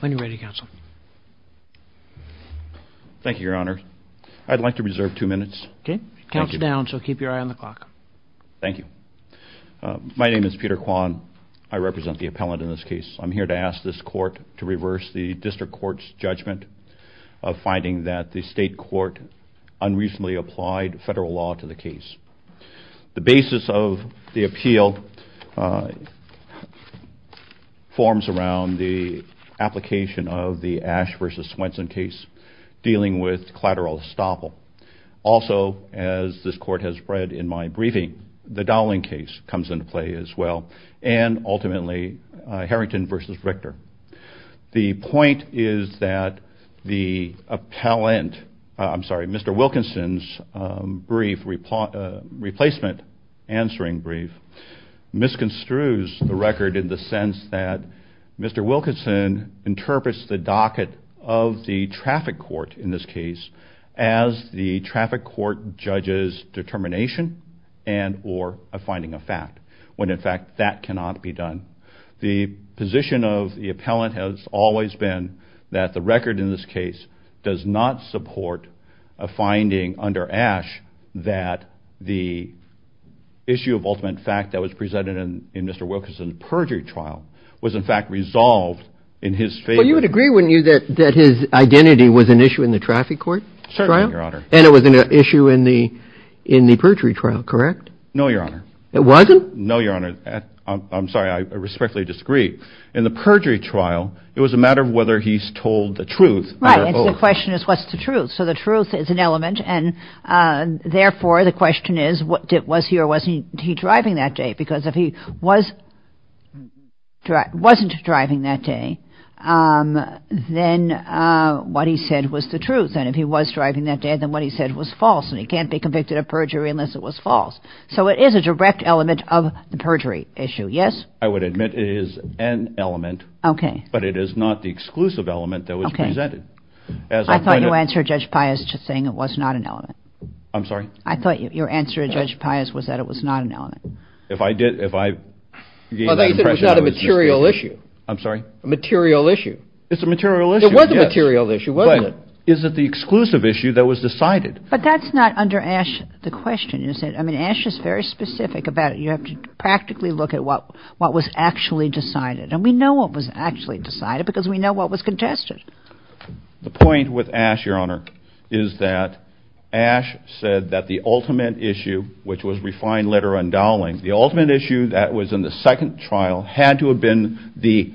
When you're ready, Counsel. Thank you, Your Honor. I'd like to reserve two minutes. Okay. Counts down, so keep your eye on the clock. Thank you. My name is Peter Kwan. I represent the appellant in this case. I'm here to ask this court to reverse the district court's judgment of finding that the state court unreasonably applied federal law to the case. The basis of the appeal forms around the application of the Ash v. Swenson case dealing with collateral estoppel. Also, as this court has read in my briefing, the Dowling case comes into play as well, and ultimately Harrington v. Richter. The point is that the appellant, I'm sorry, Mr. Wilkinson's brief, replacement answering brief, misconstrues the record in the sense that Mr. Wilkinson interprets the docket of the traffic court in this case as the traffic court judge's determination and or a finding of fact, when in fact that cannot be done. The position of the appellant has always been that the issue of ultimate fact that was presented in Mr. Wilkinson's perjury trial was in fact resolved in his favor. Well, you would agree, wouldn't you, that his identity was an issue in the traffic court trial? Certainly, Your Honor. And it was an issue in the perjury trial, correct? No, Your Honor. It wasn't? No, Your Honor. I'm sorry, I respectfully disagree. In the perjury trial, it was a matter of whether he's told the truth. Right, and the question is what's the truth? So the truth is an element. Therefore, the question is, was he or wasn't he driving that day? Because if he was, wasn't driving that day, then what he said was the truth. And if he was driving that day, then what he said was false. And he can't be convicted of perjury unless it was false. So it is a direct element of the perjury issue. Yes? I would admit it is an element. Okay. But it is not the exclusive element that was presented. I thought you answered Judge Pius saying it was not an element. I'm sorry? I thought your answer to Judge Pius was that it was not an element. If I did, if I gave that impression... Well, they said it was not a material issue. I'm sorry? A material issue. It's a material issue, yes. It was a material issue, wasn't it? But is it the exclusive issue that was decided? But that's not under Ashe, the question, is it? I mean, Ashe is very specific about it. You have to practically look at what was actually decided. And we know what was actually decided because we know what was contested. The point with Ashe, Your Honor, is that the ultimate issue, which was refined letter undoweling, the ultimate issue that was in the second trial had to have been the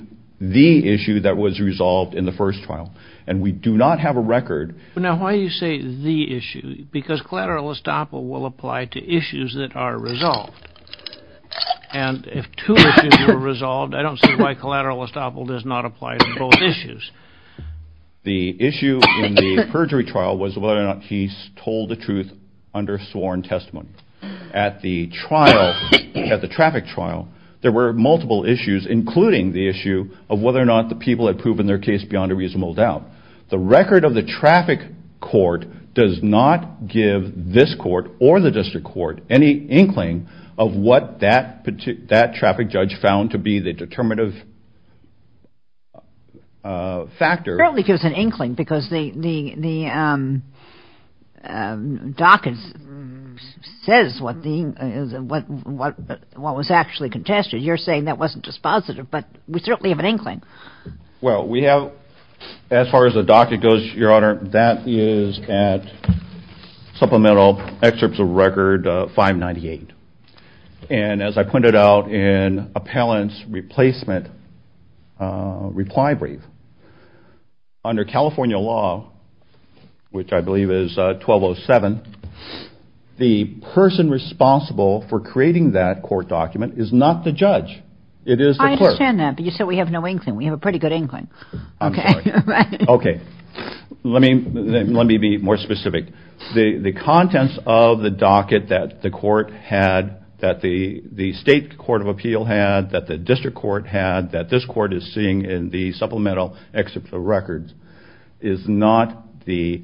issue that was resolved in the first trial. And we do not have a record. Now why do you say the issue? Because collateral estoppel will apply to issues that are resolved. And if two issues are resolved, I don't see why collateral estoppel does not apply to both issues. The issue in the perjury trial was whether or not he told the truth under sworn testimony. At the trial, at the traffic trial, there were multiple issues, including the issue of whether or not the people had proven their case beyond a reasonable doubt. The record of the traffic court does not give this court or the district court any inkling of what that traffic judge found to be the determinative factor. It certainly gives an inkling because the docket says what was actually contested. You're saying that wasn't dispositive, but we certainly have an inkling. Well, we have, as far as the docket goes, Your Honor, that is at supplemental excerpts of record 598. And as I pointed out in appellant's replacement reply brief, under California law, which I believe is 1207, the person responsible for creating that court document is not the judge. It is the clerk. I understand that, but you said we have no inkling. We have a pretty good inkling. Okay, let me be more specific. The state court of appeal had, that the district court had, that this court is seeing in the supplemental excerpt of records, is not the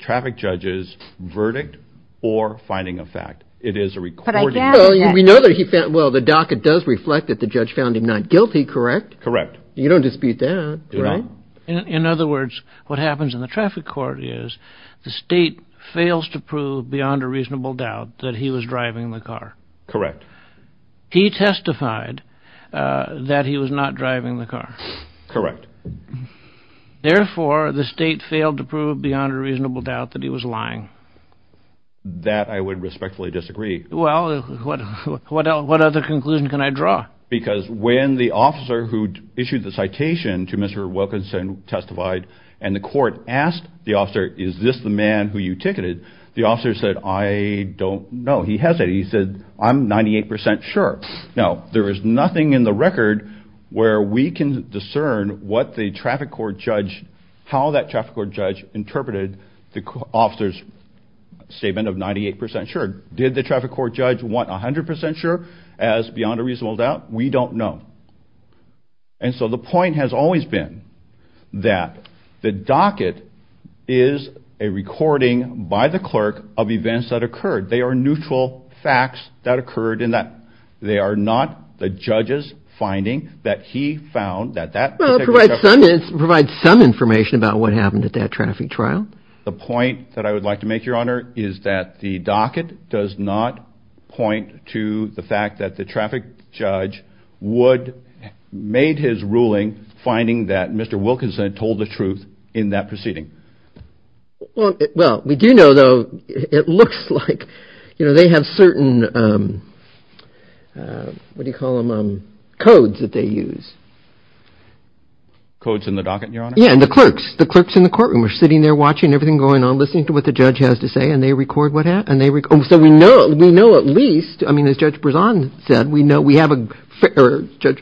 traffic judge's verdict or finding of fact. It is a recording. We know that the docket does reflect that the judge found him not guilty, correct? Correct. You don't dispute that, right? In other words, what happens in the traffic court is the state fails to prove beyond a reasonable doubt that he was driving the car. Correct. He testified that he was not driving the car. Correct. Therefore, the state failed to prove beyond a reasonable doubt that he was lying. That I would respectfully disagree. Well, what other conclusion can I draw? Because when the officer who issued the citation to Mr. Wilkinson testified, and the court asked the officer, is this the man who you ticketed? The officer said, I don't know. He hesitated. He said, I'm 98% sure. Now, there is nothing in the record where we can discern what the traffic court judge, how that traffic court judge interpreted the officer's statement of 98% sure. Did the traffic court judge want 100% sure as beyond a reasonable doubt? We don't know. And so the point has always been that the docket is a recording by the clerk of events that occurred. They are neutral facts that occurred in that. They are not the judge's finding that he found that that... Well, it provides some information about what happened at that traffic trial. The point that I would like to make, Your Honor, is that the docket does not point to the fact that the traffic judge would, made his ruling, finding that Mr. Wilkinson told the truth in that proceeding. Well, we do know, though, it looks like, you know, they have certain, what do you call them, codes that they use. Codes in the docket, Your Honor? Yeah, and the clerks, the clerks in the courtroom are sitting there watching everything going on, listening to what the judge has to say, and they record what happened. So we know, we know at least, I mean, as Judge Brezon said, we know we have a fair, Judge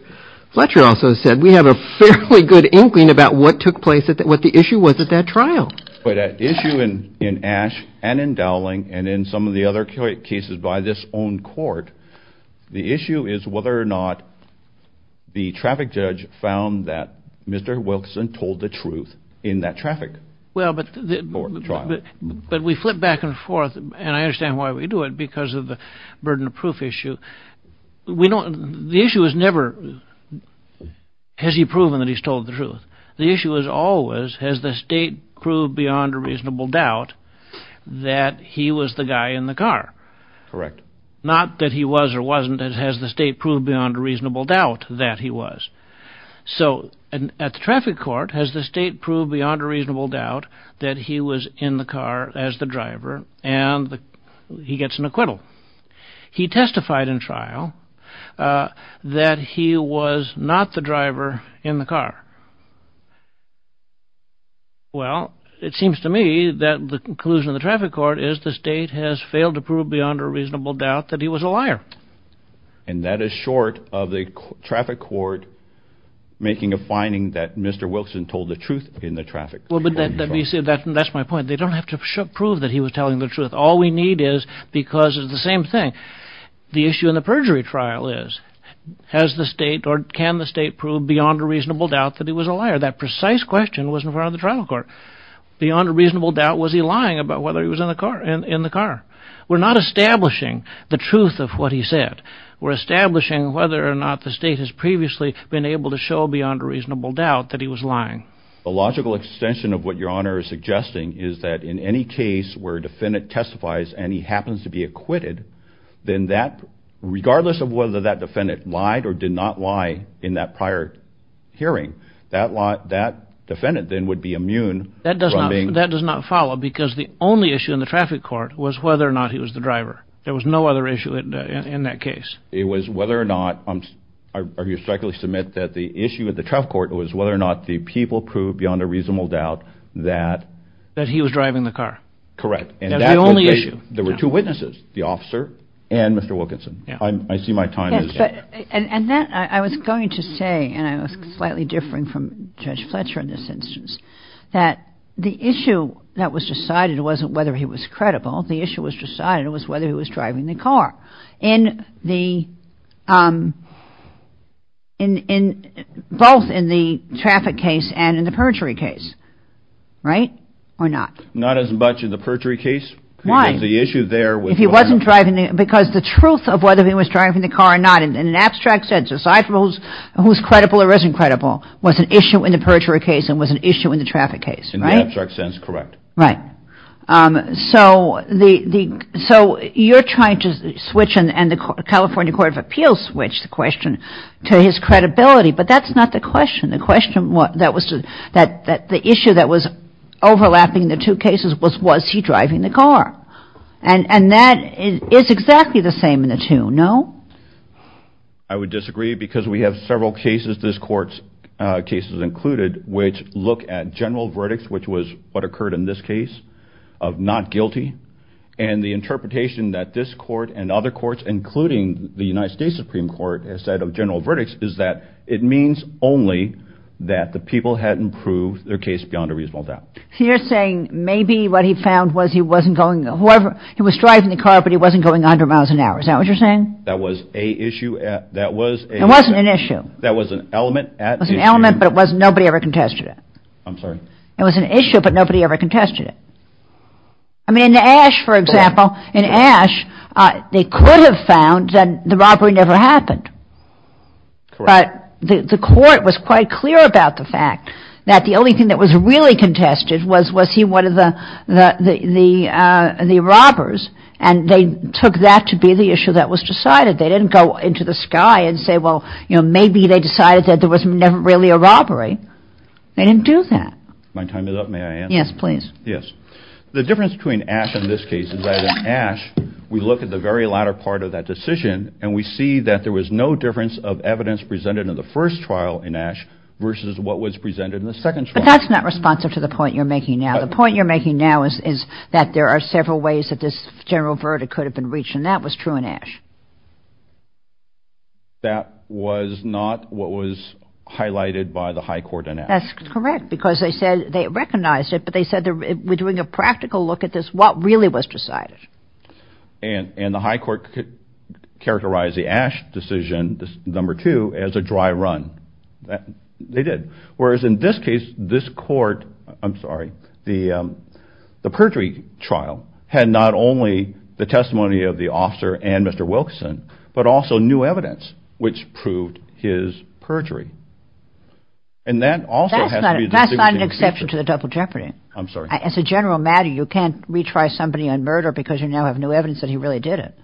Fletcher also said, we have a fairly good inkling about what took place at that, what the in Ash and in Dowling and in some of the other cases by this own court, the issue is whether or not the traffic judge found that Mr. Wilkinson told the truth in that traffic trial. Well, but we flip back and forth, and I understand why we do it, because of the burden of proof issue. We don't, the issue is never, has he proven that he's told the truth? The issue is always, has the state proved beyond a reasonable doubt that he was the guy in the car? Correct. Not that he was or wasn't, has the state proved beyond a reasonable doubt that he was? So, at the traffic court, has the state proved beyond a reasonable doubt that he was in the car as the driver, and he gets an acquittal? He testified in trial that he was not the driver in the car. Well, it seems to me that the conclusion of the traffic court is the state has failed to prove beyond a reasonable doubt that he was a liar. And that is short of the traffic court making a finding that Mr. Wilkinson told the truth in the traffic trial. Well, but that, let me say that, that's my point. They don't have to prove that he was telling the truth. All we need is, because it's the same thing. The issue in the perjury trial is, has the state or can the state prove beyond a reasonable doubt that he was a liar? That precise question was in front of the traffic court. Beyond a reasonable doubt, was he lying about whether he was in the car? We're not establishing the truth of what he said. We're establishing whether or not the state has previously been able to show beyond a reasonable doubt that he was lying. The logical extension of what Your Honor is suggesting is that in any case where a defendant testifies and he happens to be acquitted, then that, regardless of whether that defendant lied or did not lie in that prior hearing, that defendant then would be immune. That does not, that does not follow because the only issue in the traffic court was whether or not he was the driver. There was no other issue in that case. It was whether or not, I respectfully submit that the issue of the traffic court was whether or not the people proved beyond a reasonable doubt that, that he was driving the car. Correct. And that was the only issue. There were two witnesses, the officer and Mr. Wilkinson. I see my time is up. And that, I was going to say, and I was slightly differing from Judge Fletcher in this instance, that the issue that was decided wasn't whether he was credible, the issue was decided was whether he was driving the car. In the, both in the traffic case and in the perjury case. Right? Or not? Not as much in the perjury case. Why? The issue there was... If he wasn't driving, because the truth of whether he was driving the car or not, in an abstract sense, aside from who's credible or isn't credible, was an issue in the perjury case and was an issue in the traffic case. In the abstract sense, correct. Right. So the, so you're trying to switch, and the California Court of Appeals switched the question to his credibility, but that's not the question. The question was, that was, that the issue that was overlapping the two cases was, was he driving the car? And that is exactly the same in the two. No? I would disagree, because we have several cases, this Court's cases included, which look at general verdicts, which was what occurred in this case, of not guilty. And the interpretation that this Court and other courts, including the United States Supreme Court, has said of general verdicts is that it means only that the people had improved their case beyond a reasonable doubt. So you're saying maybe what he found was he wasn't going, however, he was driving the car, but he wasn't going a hundred miles an hour. Is that what you're saying? That was a issue, that was... It wasn't an issue. That was an element at the... It was an element, but it wasn't, nobody ever contested it. I'm sorry? It was an issue, but nobody ever contested it. I mean, in Ashe, for example, in Ashe, they could have found that the robber happened. Correct. But the Court was quite clear about the fact that the only thing that was really contested was, was he one of the robbers, and they took that to be the issue that was decided. They didn't go into the sky and say, well, you know, maybe they decided that there was never really a robbery. They didn't do that. My time is up, may I answer? Yes, please. Yes. The difference between Ashe and this case is that in Ashe, we look at the very latter part of that decision and we see that there was no difference of evidence presented in the first trial in Ashe versus what was presented in the second trial. But that's not responsive to the point you're making now. The point you're making now is that there are several ways that this general verdict could have been reached, and that was true in Ashe. That was not what was highlighted by the High Court in Ashe. That's correct, because they said, they recognized it, but they said, we're doing a practical look at this, what really was decided. And the High Court characterized the Ashe decision, number two, as a dry run. They did. Whereas in this case, this court, I'm sorry, the perjury trial had not only the testimony of the officer and Mr. Wilkinson, but also new evidence which proved his perjury. And that also has to be... That's not an exception to the double jeopardy. I'm because you now have new evidence that he really did it.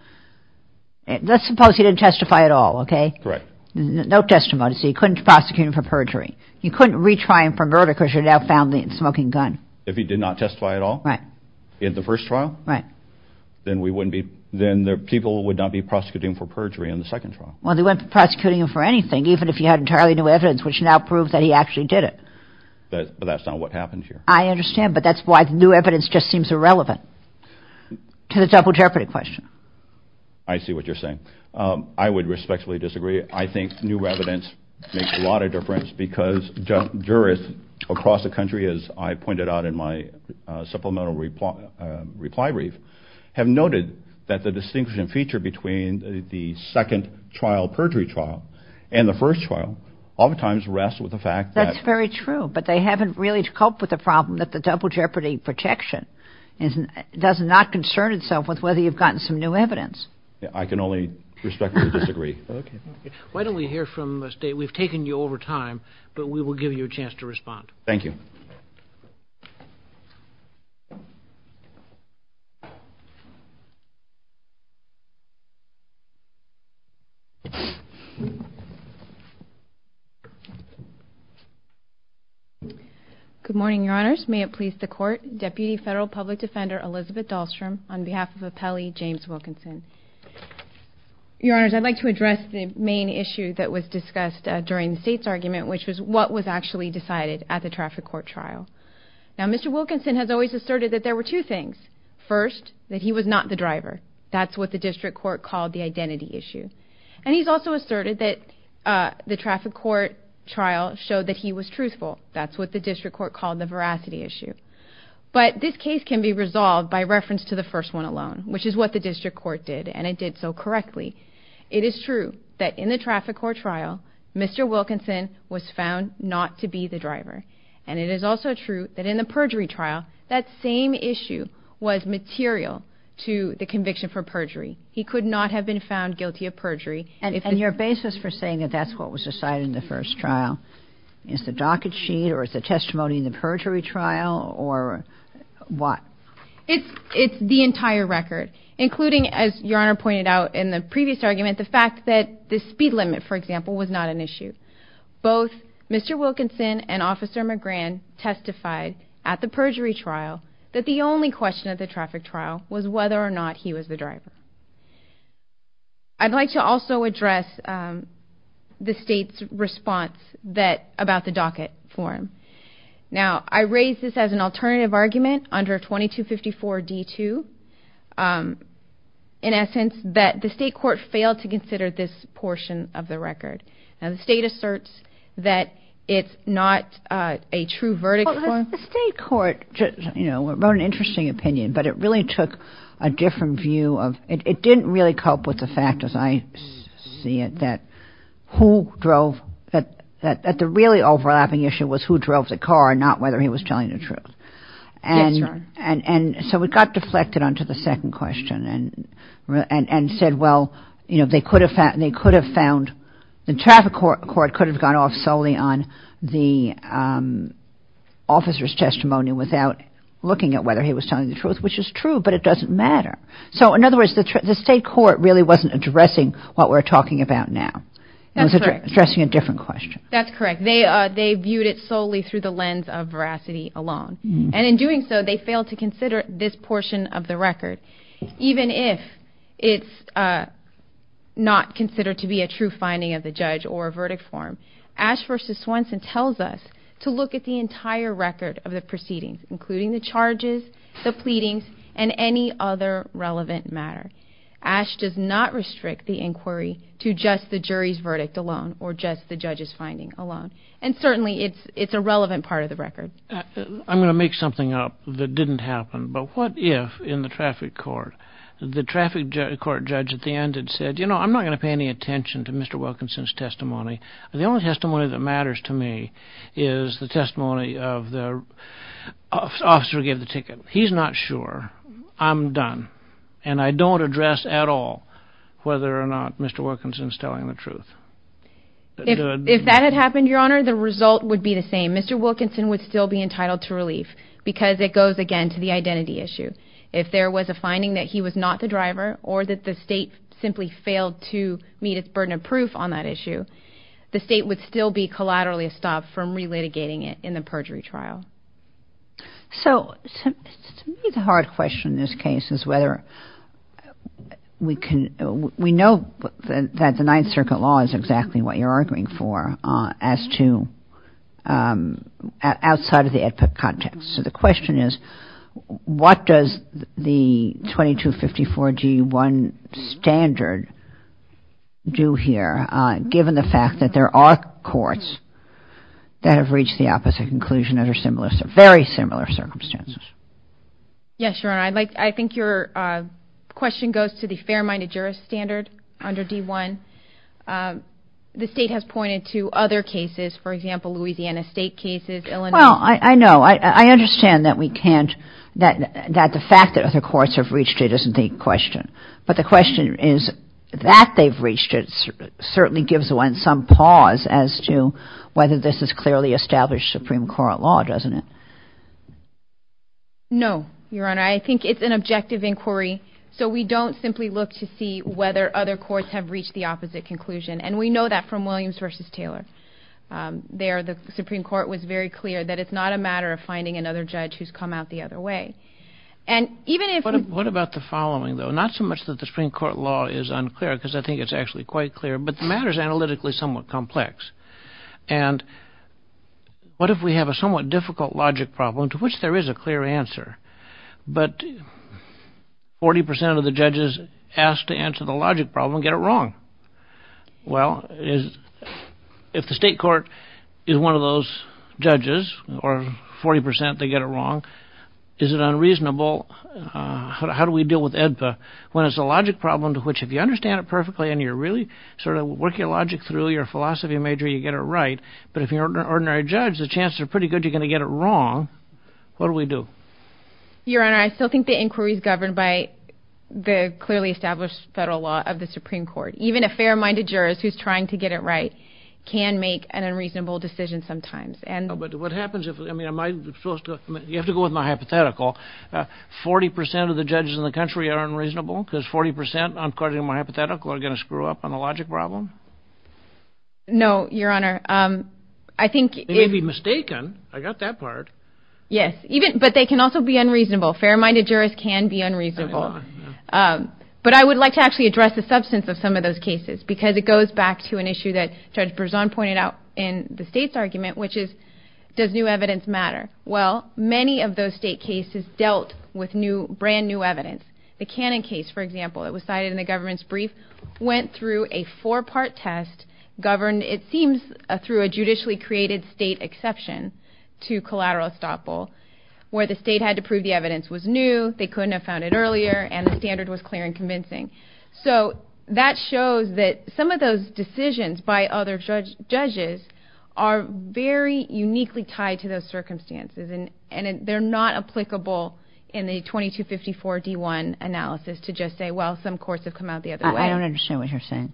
Let's suppose he didn't testify at all, okay? Correct. No testimony, so you couldn't prosecute him for perjury. You couldn't retry him for murder because you now found the smoking gun. If he did not testify at all? Right. In the first trial? Right. Then we wouldn't be, then the people would not be prosecuting him for perjury in the second trial. Well, they wouldn't be prosecuting him for anything, even if you had entirely new evidence, which now proves that he actually did it. But that's not what happened here. I understand, but that's why new evidence just seems irrelevant to the double jeopardy question. I see what you're saying. I would respectfully disagree. I think new evidence makes a lot of difference because jurists across the country, as I pointed out in my supplemental reply brief, have noted that the distinguishing feature between the second trial perjury trial and the first trial oftentimes rests with the fact that... That's very true, but they haven't really coped with the problem that the double jeopardy protection does not concern itself with whether you've gotten some new evidence. I can only respectfully disagree. Okay. Why don't we hear from the state? We've taken you over time, but we will give you a chance to respond. Thank you. Good morning, Your Honors. May it please the Court, Deputy Federal Public Defender Elizabeth Dahlstrom on behalf of Appellee James Wilkinson. Your Honors, I'd like to address the main issue that was discussed during the state's argument, which was what was actually decided at the traffic court trial. Now, Mr. Wilkinson has always asserted that there were two things. First, that he was not the driver. That's what the district court called the identity issue. And he's also asserted that the traffic court trial showed that he was truthful. That's what the district court called the veracity issue. But this case can be resolved by reference to the first one alone, which is what the district court did, and it did so correctly. It is true that in the traffic court trial, Mr. Wilkinson was found not to be the driver. And it is also true that in the perjury trial, that same issue was material to the conviction for perjury. He could not have been found guilty of perjury. And your basis for saying that that's what was decided in the first trial, is the docket sheet or is the testimony in the perjury trial or what? It's the entire record, including, as Your Honor pointed out in the previous argument, the fact that the speed limit, for example, was not an issue. Both Mr. Wilkinson and Officer McGran testified at the perjury trial that the only question of the traffic trial was whether or not he was the driver. I'd like to also address the state's response about the docket form. Now, I raise this as an alternative argument under 2254 D2, in essence, that the state court failed to consider this portion of the record. Now, the state asserts that it's not a true verdict. The state court, you know, wrote an interesting opinion, but it really took a different view of, it didn't really cope with the fact, as I see it, that who drove, that the really overlapping issue was who drove the car, not whether he was telling the truth. And so it got deflected onto the second question and said, well, you know, they could have found, they could have found, the traffic court could have gone off solely on the officer's testimony without looking at whether he was telling the truth, which is true, but it doesn't matter. So, in other words, the state court really wasn't addressing what we're talking about now. It was addressing a different question. That's correct. They viewed it solely through the lens of veracity alone. And in doing so, they failed to consider this portion of the record, even if it's not considered to be a true finding of the judge or a verdict form. Ash versus Swenson tells us to look at the entire record of the proceedings, including the charges, the pleadings, and any other relevant matter. Ash does not restrict the inquiry to just the jury's verdict alone or just the judge's finding alone. And certainly it's a relevant part of the record. I'm going to make something up that didn't happen, but what if, in the traffic court, the traffic court judge at the end had said, you know, I'm not going to pay any attention to Mr. Wilkinson's testimony. The only testimony that matters to me is the testimony of the officer who gave the ticket. He's not sure. I'm done. And I don't address at all whether or not Mr. Wilkinson's telling the truth. If that had happened, Your Honor, the result would be the same. Mr. Wilkinson would still be entitled to relief because it goes again to the identity issue. If there was a finding that he was not the driver or that the state simply failed to meet its burden of proof on that issue, the state would still be collaterally stopped from relitigating it in the perjury trial. So to me, the hard question in this case is whether we can, we know that the Ninth Circuit has a fair-minded jurist standard under D-1. The state has pointed to other cases, for example, Louisiana state cases, Illinois. Well, I know. I understand that we can't, that the fact that other courts have reached it isn't the question. But the question is that they've reached it certainly gives one some pause as to whether this is clearly established Supreme Court law, doesn't it? No, Your Honor. I think it's an objective inquiry. So we don't simply look to see whether other courts have reached the opposite conclusion. And we know that from there, the Supreme Court was very clear that it's not a matter of finding another judge who's come out the other way. And even if... What about the following, though? Not so much that the Supreme Court law is unclear because I think it's actually quite clear, but the matter is analytically somewhat complex. And what if we have a somewhat difficult logic problem to which there is a clear answer, but 40 percent of the judges asked to answer the logic problem and get it wrong? Well, if the state court is one of those judges or 40 percent, they get it wrong, is it unreasonable? How do we deal with EDPA when it's a logic problem to which if you understand it perfectly and you're really sort of working logic through your philosophy major, you get it right. But if you're an ordinary judge, the chances are pretty good you're going to get it wrong. What do we do? Your Honor, I still think the inquiry is governed by the clearly established federal law of the Supreme Court. Even a fair-minded jurist who's trying to get it right can make an unreasonable decision sometimes. But what happens if... I mean, am I supposed to... You have to go with my hypothetical. 40 percent of the judges in the country are unreasonable because 40 percent, according to my hypothetical, are going to screw up on the logic problem? No, Your Honor. I think... They may be mistaken. I got that part. Yes, but they can also be actually address the substance of some of those cases, because it goes back to an issue that Judge Berzon pointed out in the state's argument, which is, does new evidence matter? Well, many of those state cases dealt with brand new evidence. The Cannon case, for example, that was cited in the government's brief, went through a four-part test governed, it seems, through a judicially created state exception to collateral estoppel, where the state had to prove the evidence was new, they couldn't have found it earlier, and the standard was clear and convincing. So that shows that some of those decisions by other judges are very uniquely tied to those circumstances, and they're not applicable in the 2254-D1 analysis to just say, well, some courts have come out the other way. I don't understand what you're saying.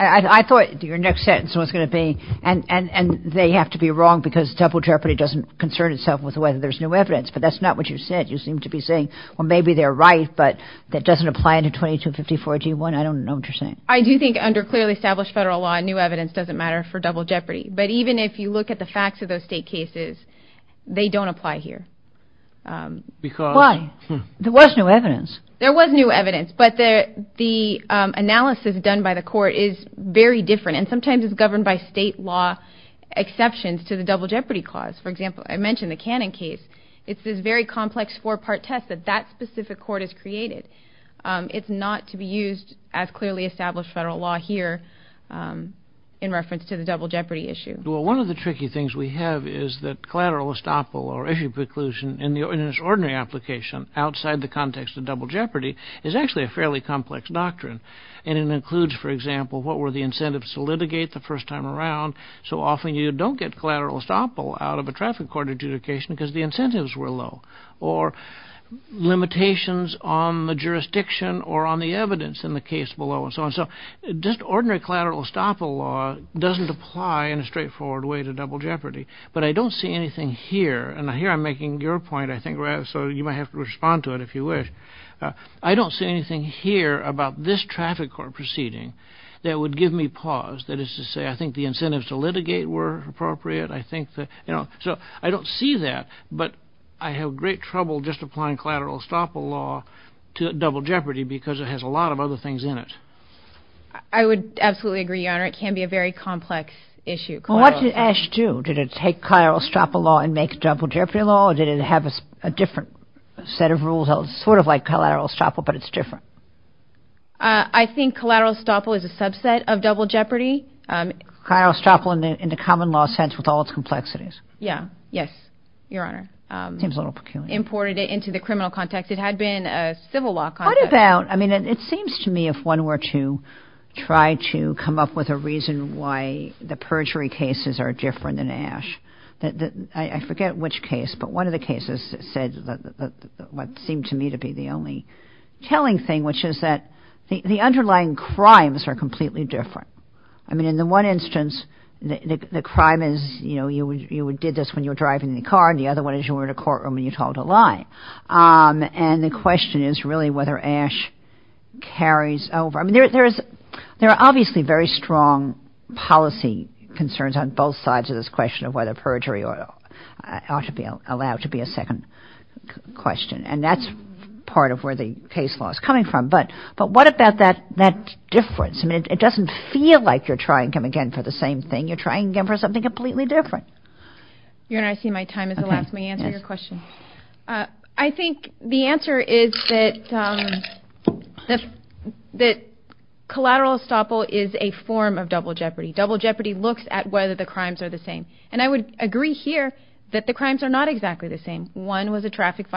I thought your next sentence was going to be, and they have to be wrong because double jeopardy doesn't concern itself with whether there's new evidence, but that's not what you said. You seem to be saying, well, maybe they're right, but that doesn't apply to 2254-D1. I don't know what you're saying. I do think under clearly established federal law, new evidence doesn't matter for double jeopardy, but even if you look at the facts of those state cases, they don't apply here. Why? There was new evidence. There was new evidence, but the analysis done by the court is very different, and sometimes it's governed by state law exceptions to the double jeopardy clause. For example, I mentioned the Cannon case. It's this very complex four-part test that that specific court has created. It's not to be used as clearly established federal law here in reference to the double jeopardy issue. Well, one of the tricky things we have is that collateral estoppel or issue preclusion in the ordinary application outside the context of double jeopardy is actually a fairly complex doctrine, and it includes, for example, what were the traffic court adjudication because the incentives were low or limitations on the jurisdiction or on the evidence in the case below and so on. So just ordinary collateral estoppel law doesn't apply in a straightforward way to double jeopardy, but I don't see anything here, and here I'm making your point, I think, so you might have to respond to it if you wish. I don't see anything here about this traffic court proceeding that would give me pause. That is to say, I think the incentives to litigate were appropriate. I think that, you know, so I don't see that, but I have great trouble just applying collateral estoppel law to double jeopardy because it has a lot of other things in it. I would absolutely agree, your honor. It can be a very complex issue. Well, what did Ashe do? Did it take collateral estoppel law and make double jeopardy law, or did it have a different set of rules? Sort of like collateral estoppel, but it's different. I think collateral estoppel is a subset of double jeopardy. Collateral estoppel in the common law sense with all its complexities. Yeah, yes, your honor. Seems a little peculiar. Imported it into the criminal context. It had been a civil law context. What about, I mean, it seems to me if one were to try to come up with a reason why the perjury cases are different than Ashe, I forget which case, but one of the cases said what seemed to me to be the only telling thing, which is that the underlying crimes are completely different. I mean, in the one instance, the crime is, you know, you did this when you were driving in the car, and the other one is you were in a courtroom and you told a lie. And the question is really whether Ashe carries over. I mean, there are obviously very strong policy concerns on both sides of this question of whether perjury ought to be allowed to be a second question, and that's part of where the case law is coming from. But what about that difference? I mean, it doesn't feel like you're trying to come again for the same thing. You're trying again for something completely different. Your honor, I see my time is the last. May I answer your question? I think the answer is that collateral estoppel is a form of double jeopardy. Double jeopardy looks at whether the crimes are the same. And I would agree here that the crimes are not exactly the same. The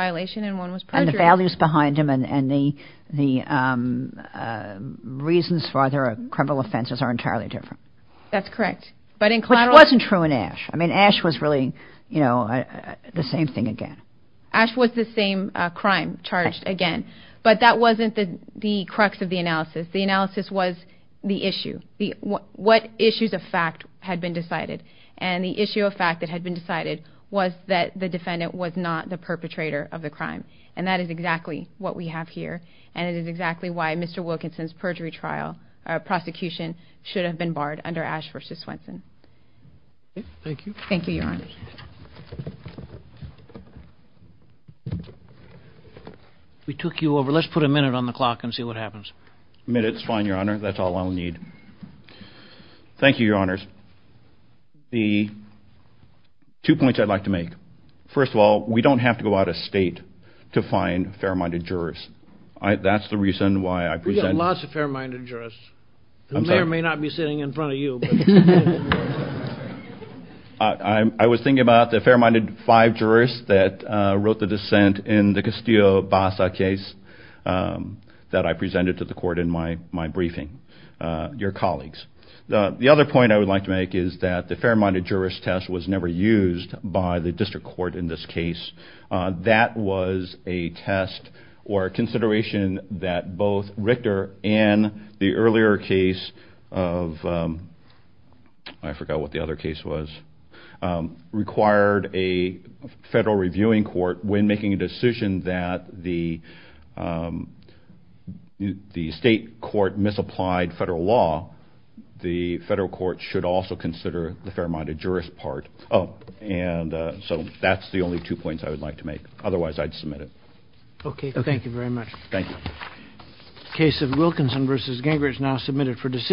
values behind them and the reasons for their criminal offenses are entirely different. That's correct. But in collateral... Which wasn't true in Ashe. I mean, Ashe was really, you know, the same thing again. Ashe was the same crime charged again. But that wasn't the crux of the analysis. The analysis was the issue. What issues of fact had been decided? And the issue of fact that had been decided was that the defendant was not the perpetrator of the crime. And that is exactly what we have here. And it is exactly why Mr. Wilkinson's perjury trial prosecution should have been barred under Ashe v. Swenson. Thank you. Thank you, your honor. We took you over. Let's put a minute on the clock and see what happens. Minutes, fine, your honor. That's all I'll need. Thank you, your honors. The two points I'd like to make. First of all, we don't have to go out of state to find fair-minded jurors. That's the reason why I present... We've got lots of fair-minded jurors who may or may not be sitting in front of you. I was thinking about the fair-minded five jurors that wrote the dissent in the Castillo-Bassa case that I presented to the court in my briefing, your colleagues. The other point I would like to make is that the fair-minded jurors test was never used by the district court in this case. That was a test or consideration that both Richter and the earlier case of... I forgot what the other case was... required a federal reviewing court when making a decision that the state court misapplied federal law. The federal court should also consider the fair-minded jurors part. So that's the only two points I would like to make. Otherwise, I'd submit it. Okay, thank you very much. Thank you. Case of Wilkinson v. Gingrich now submitted for decision.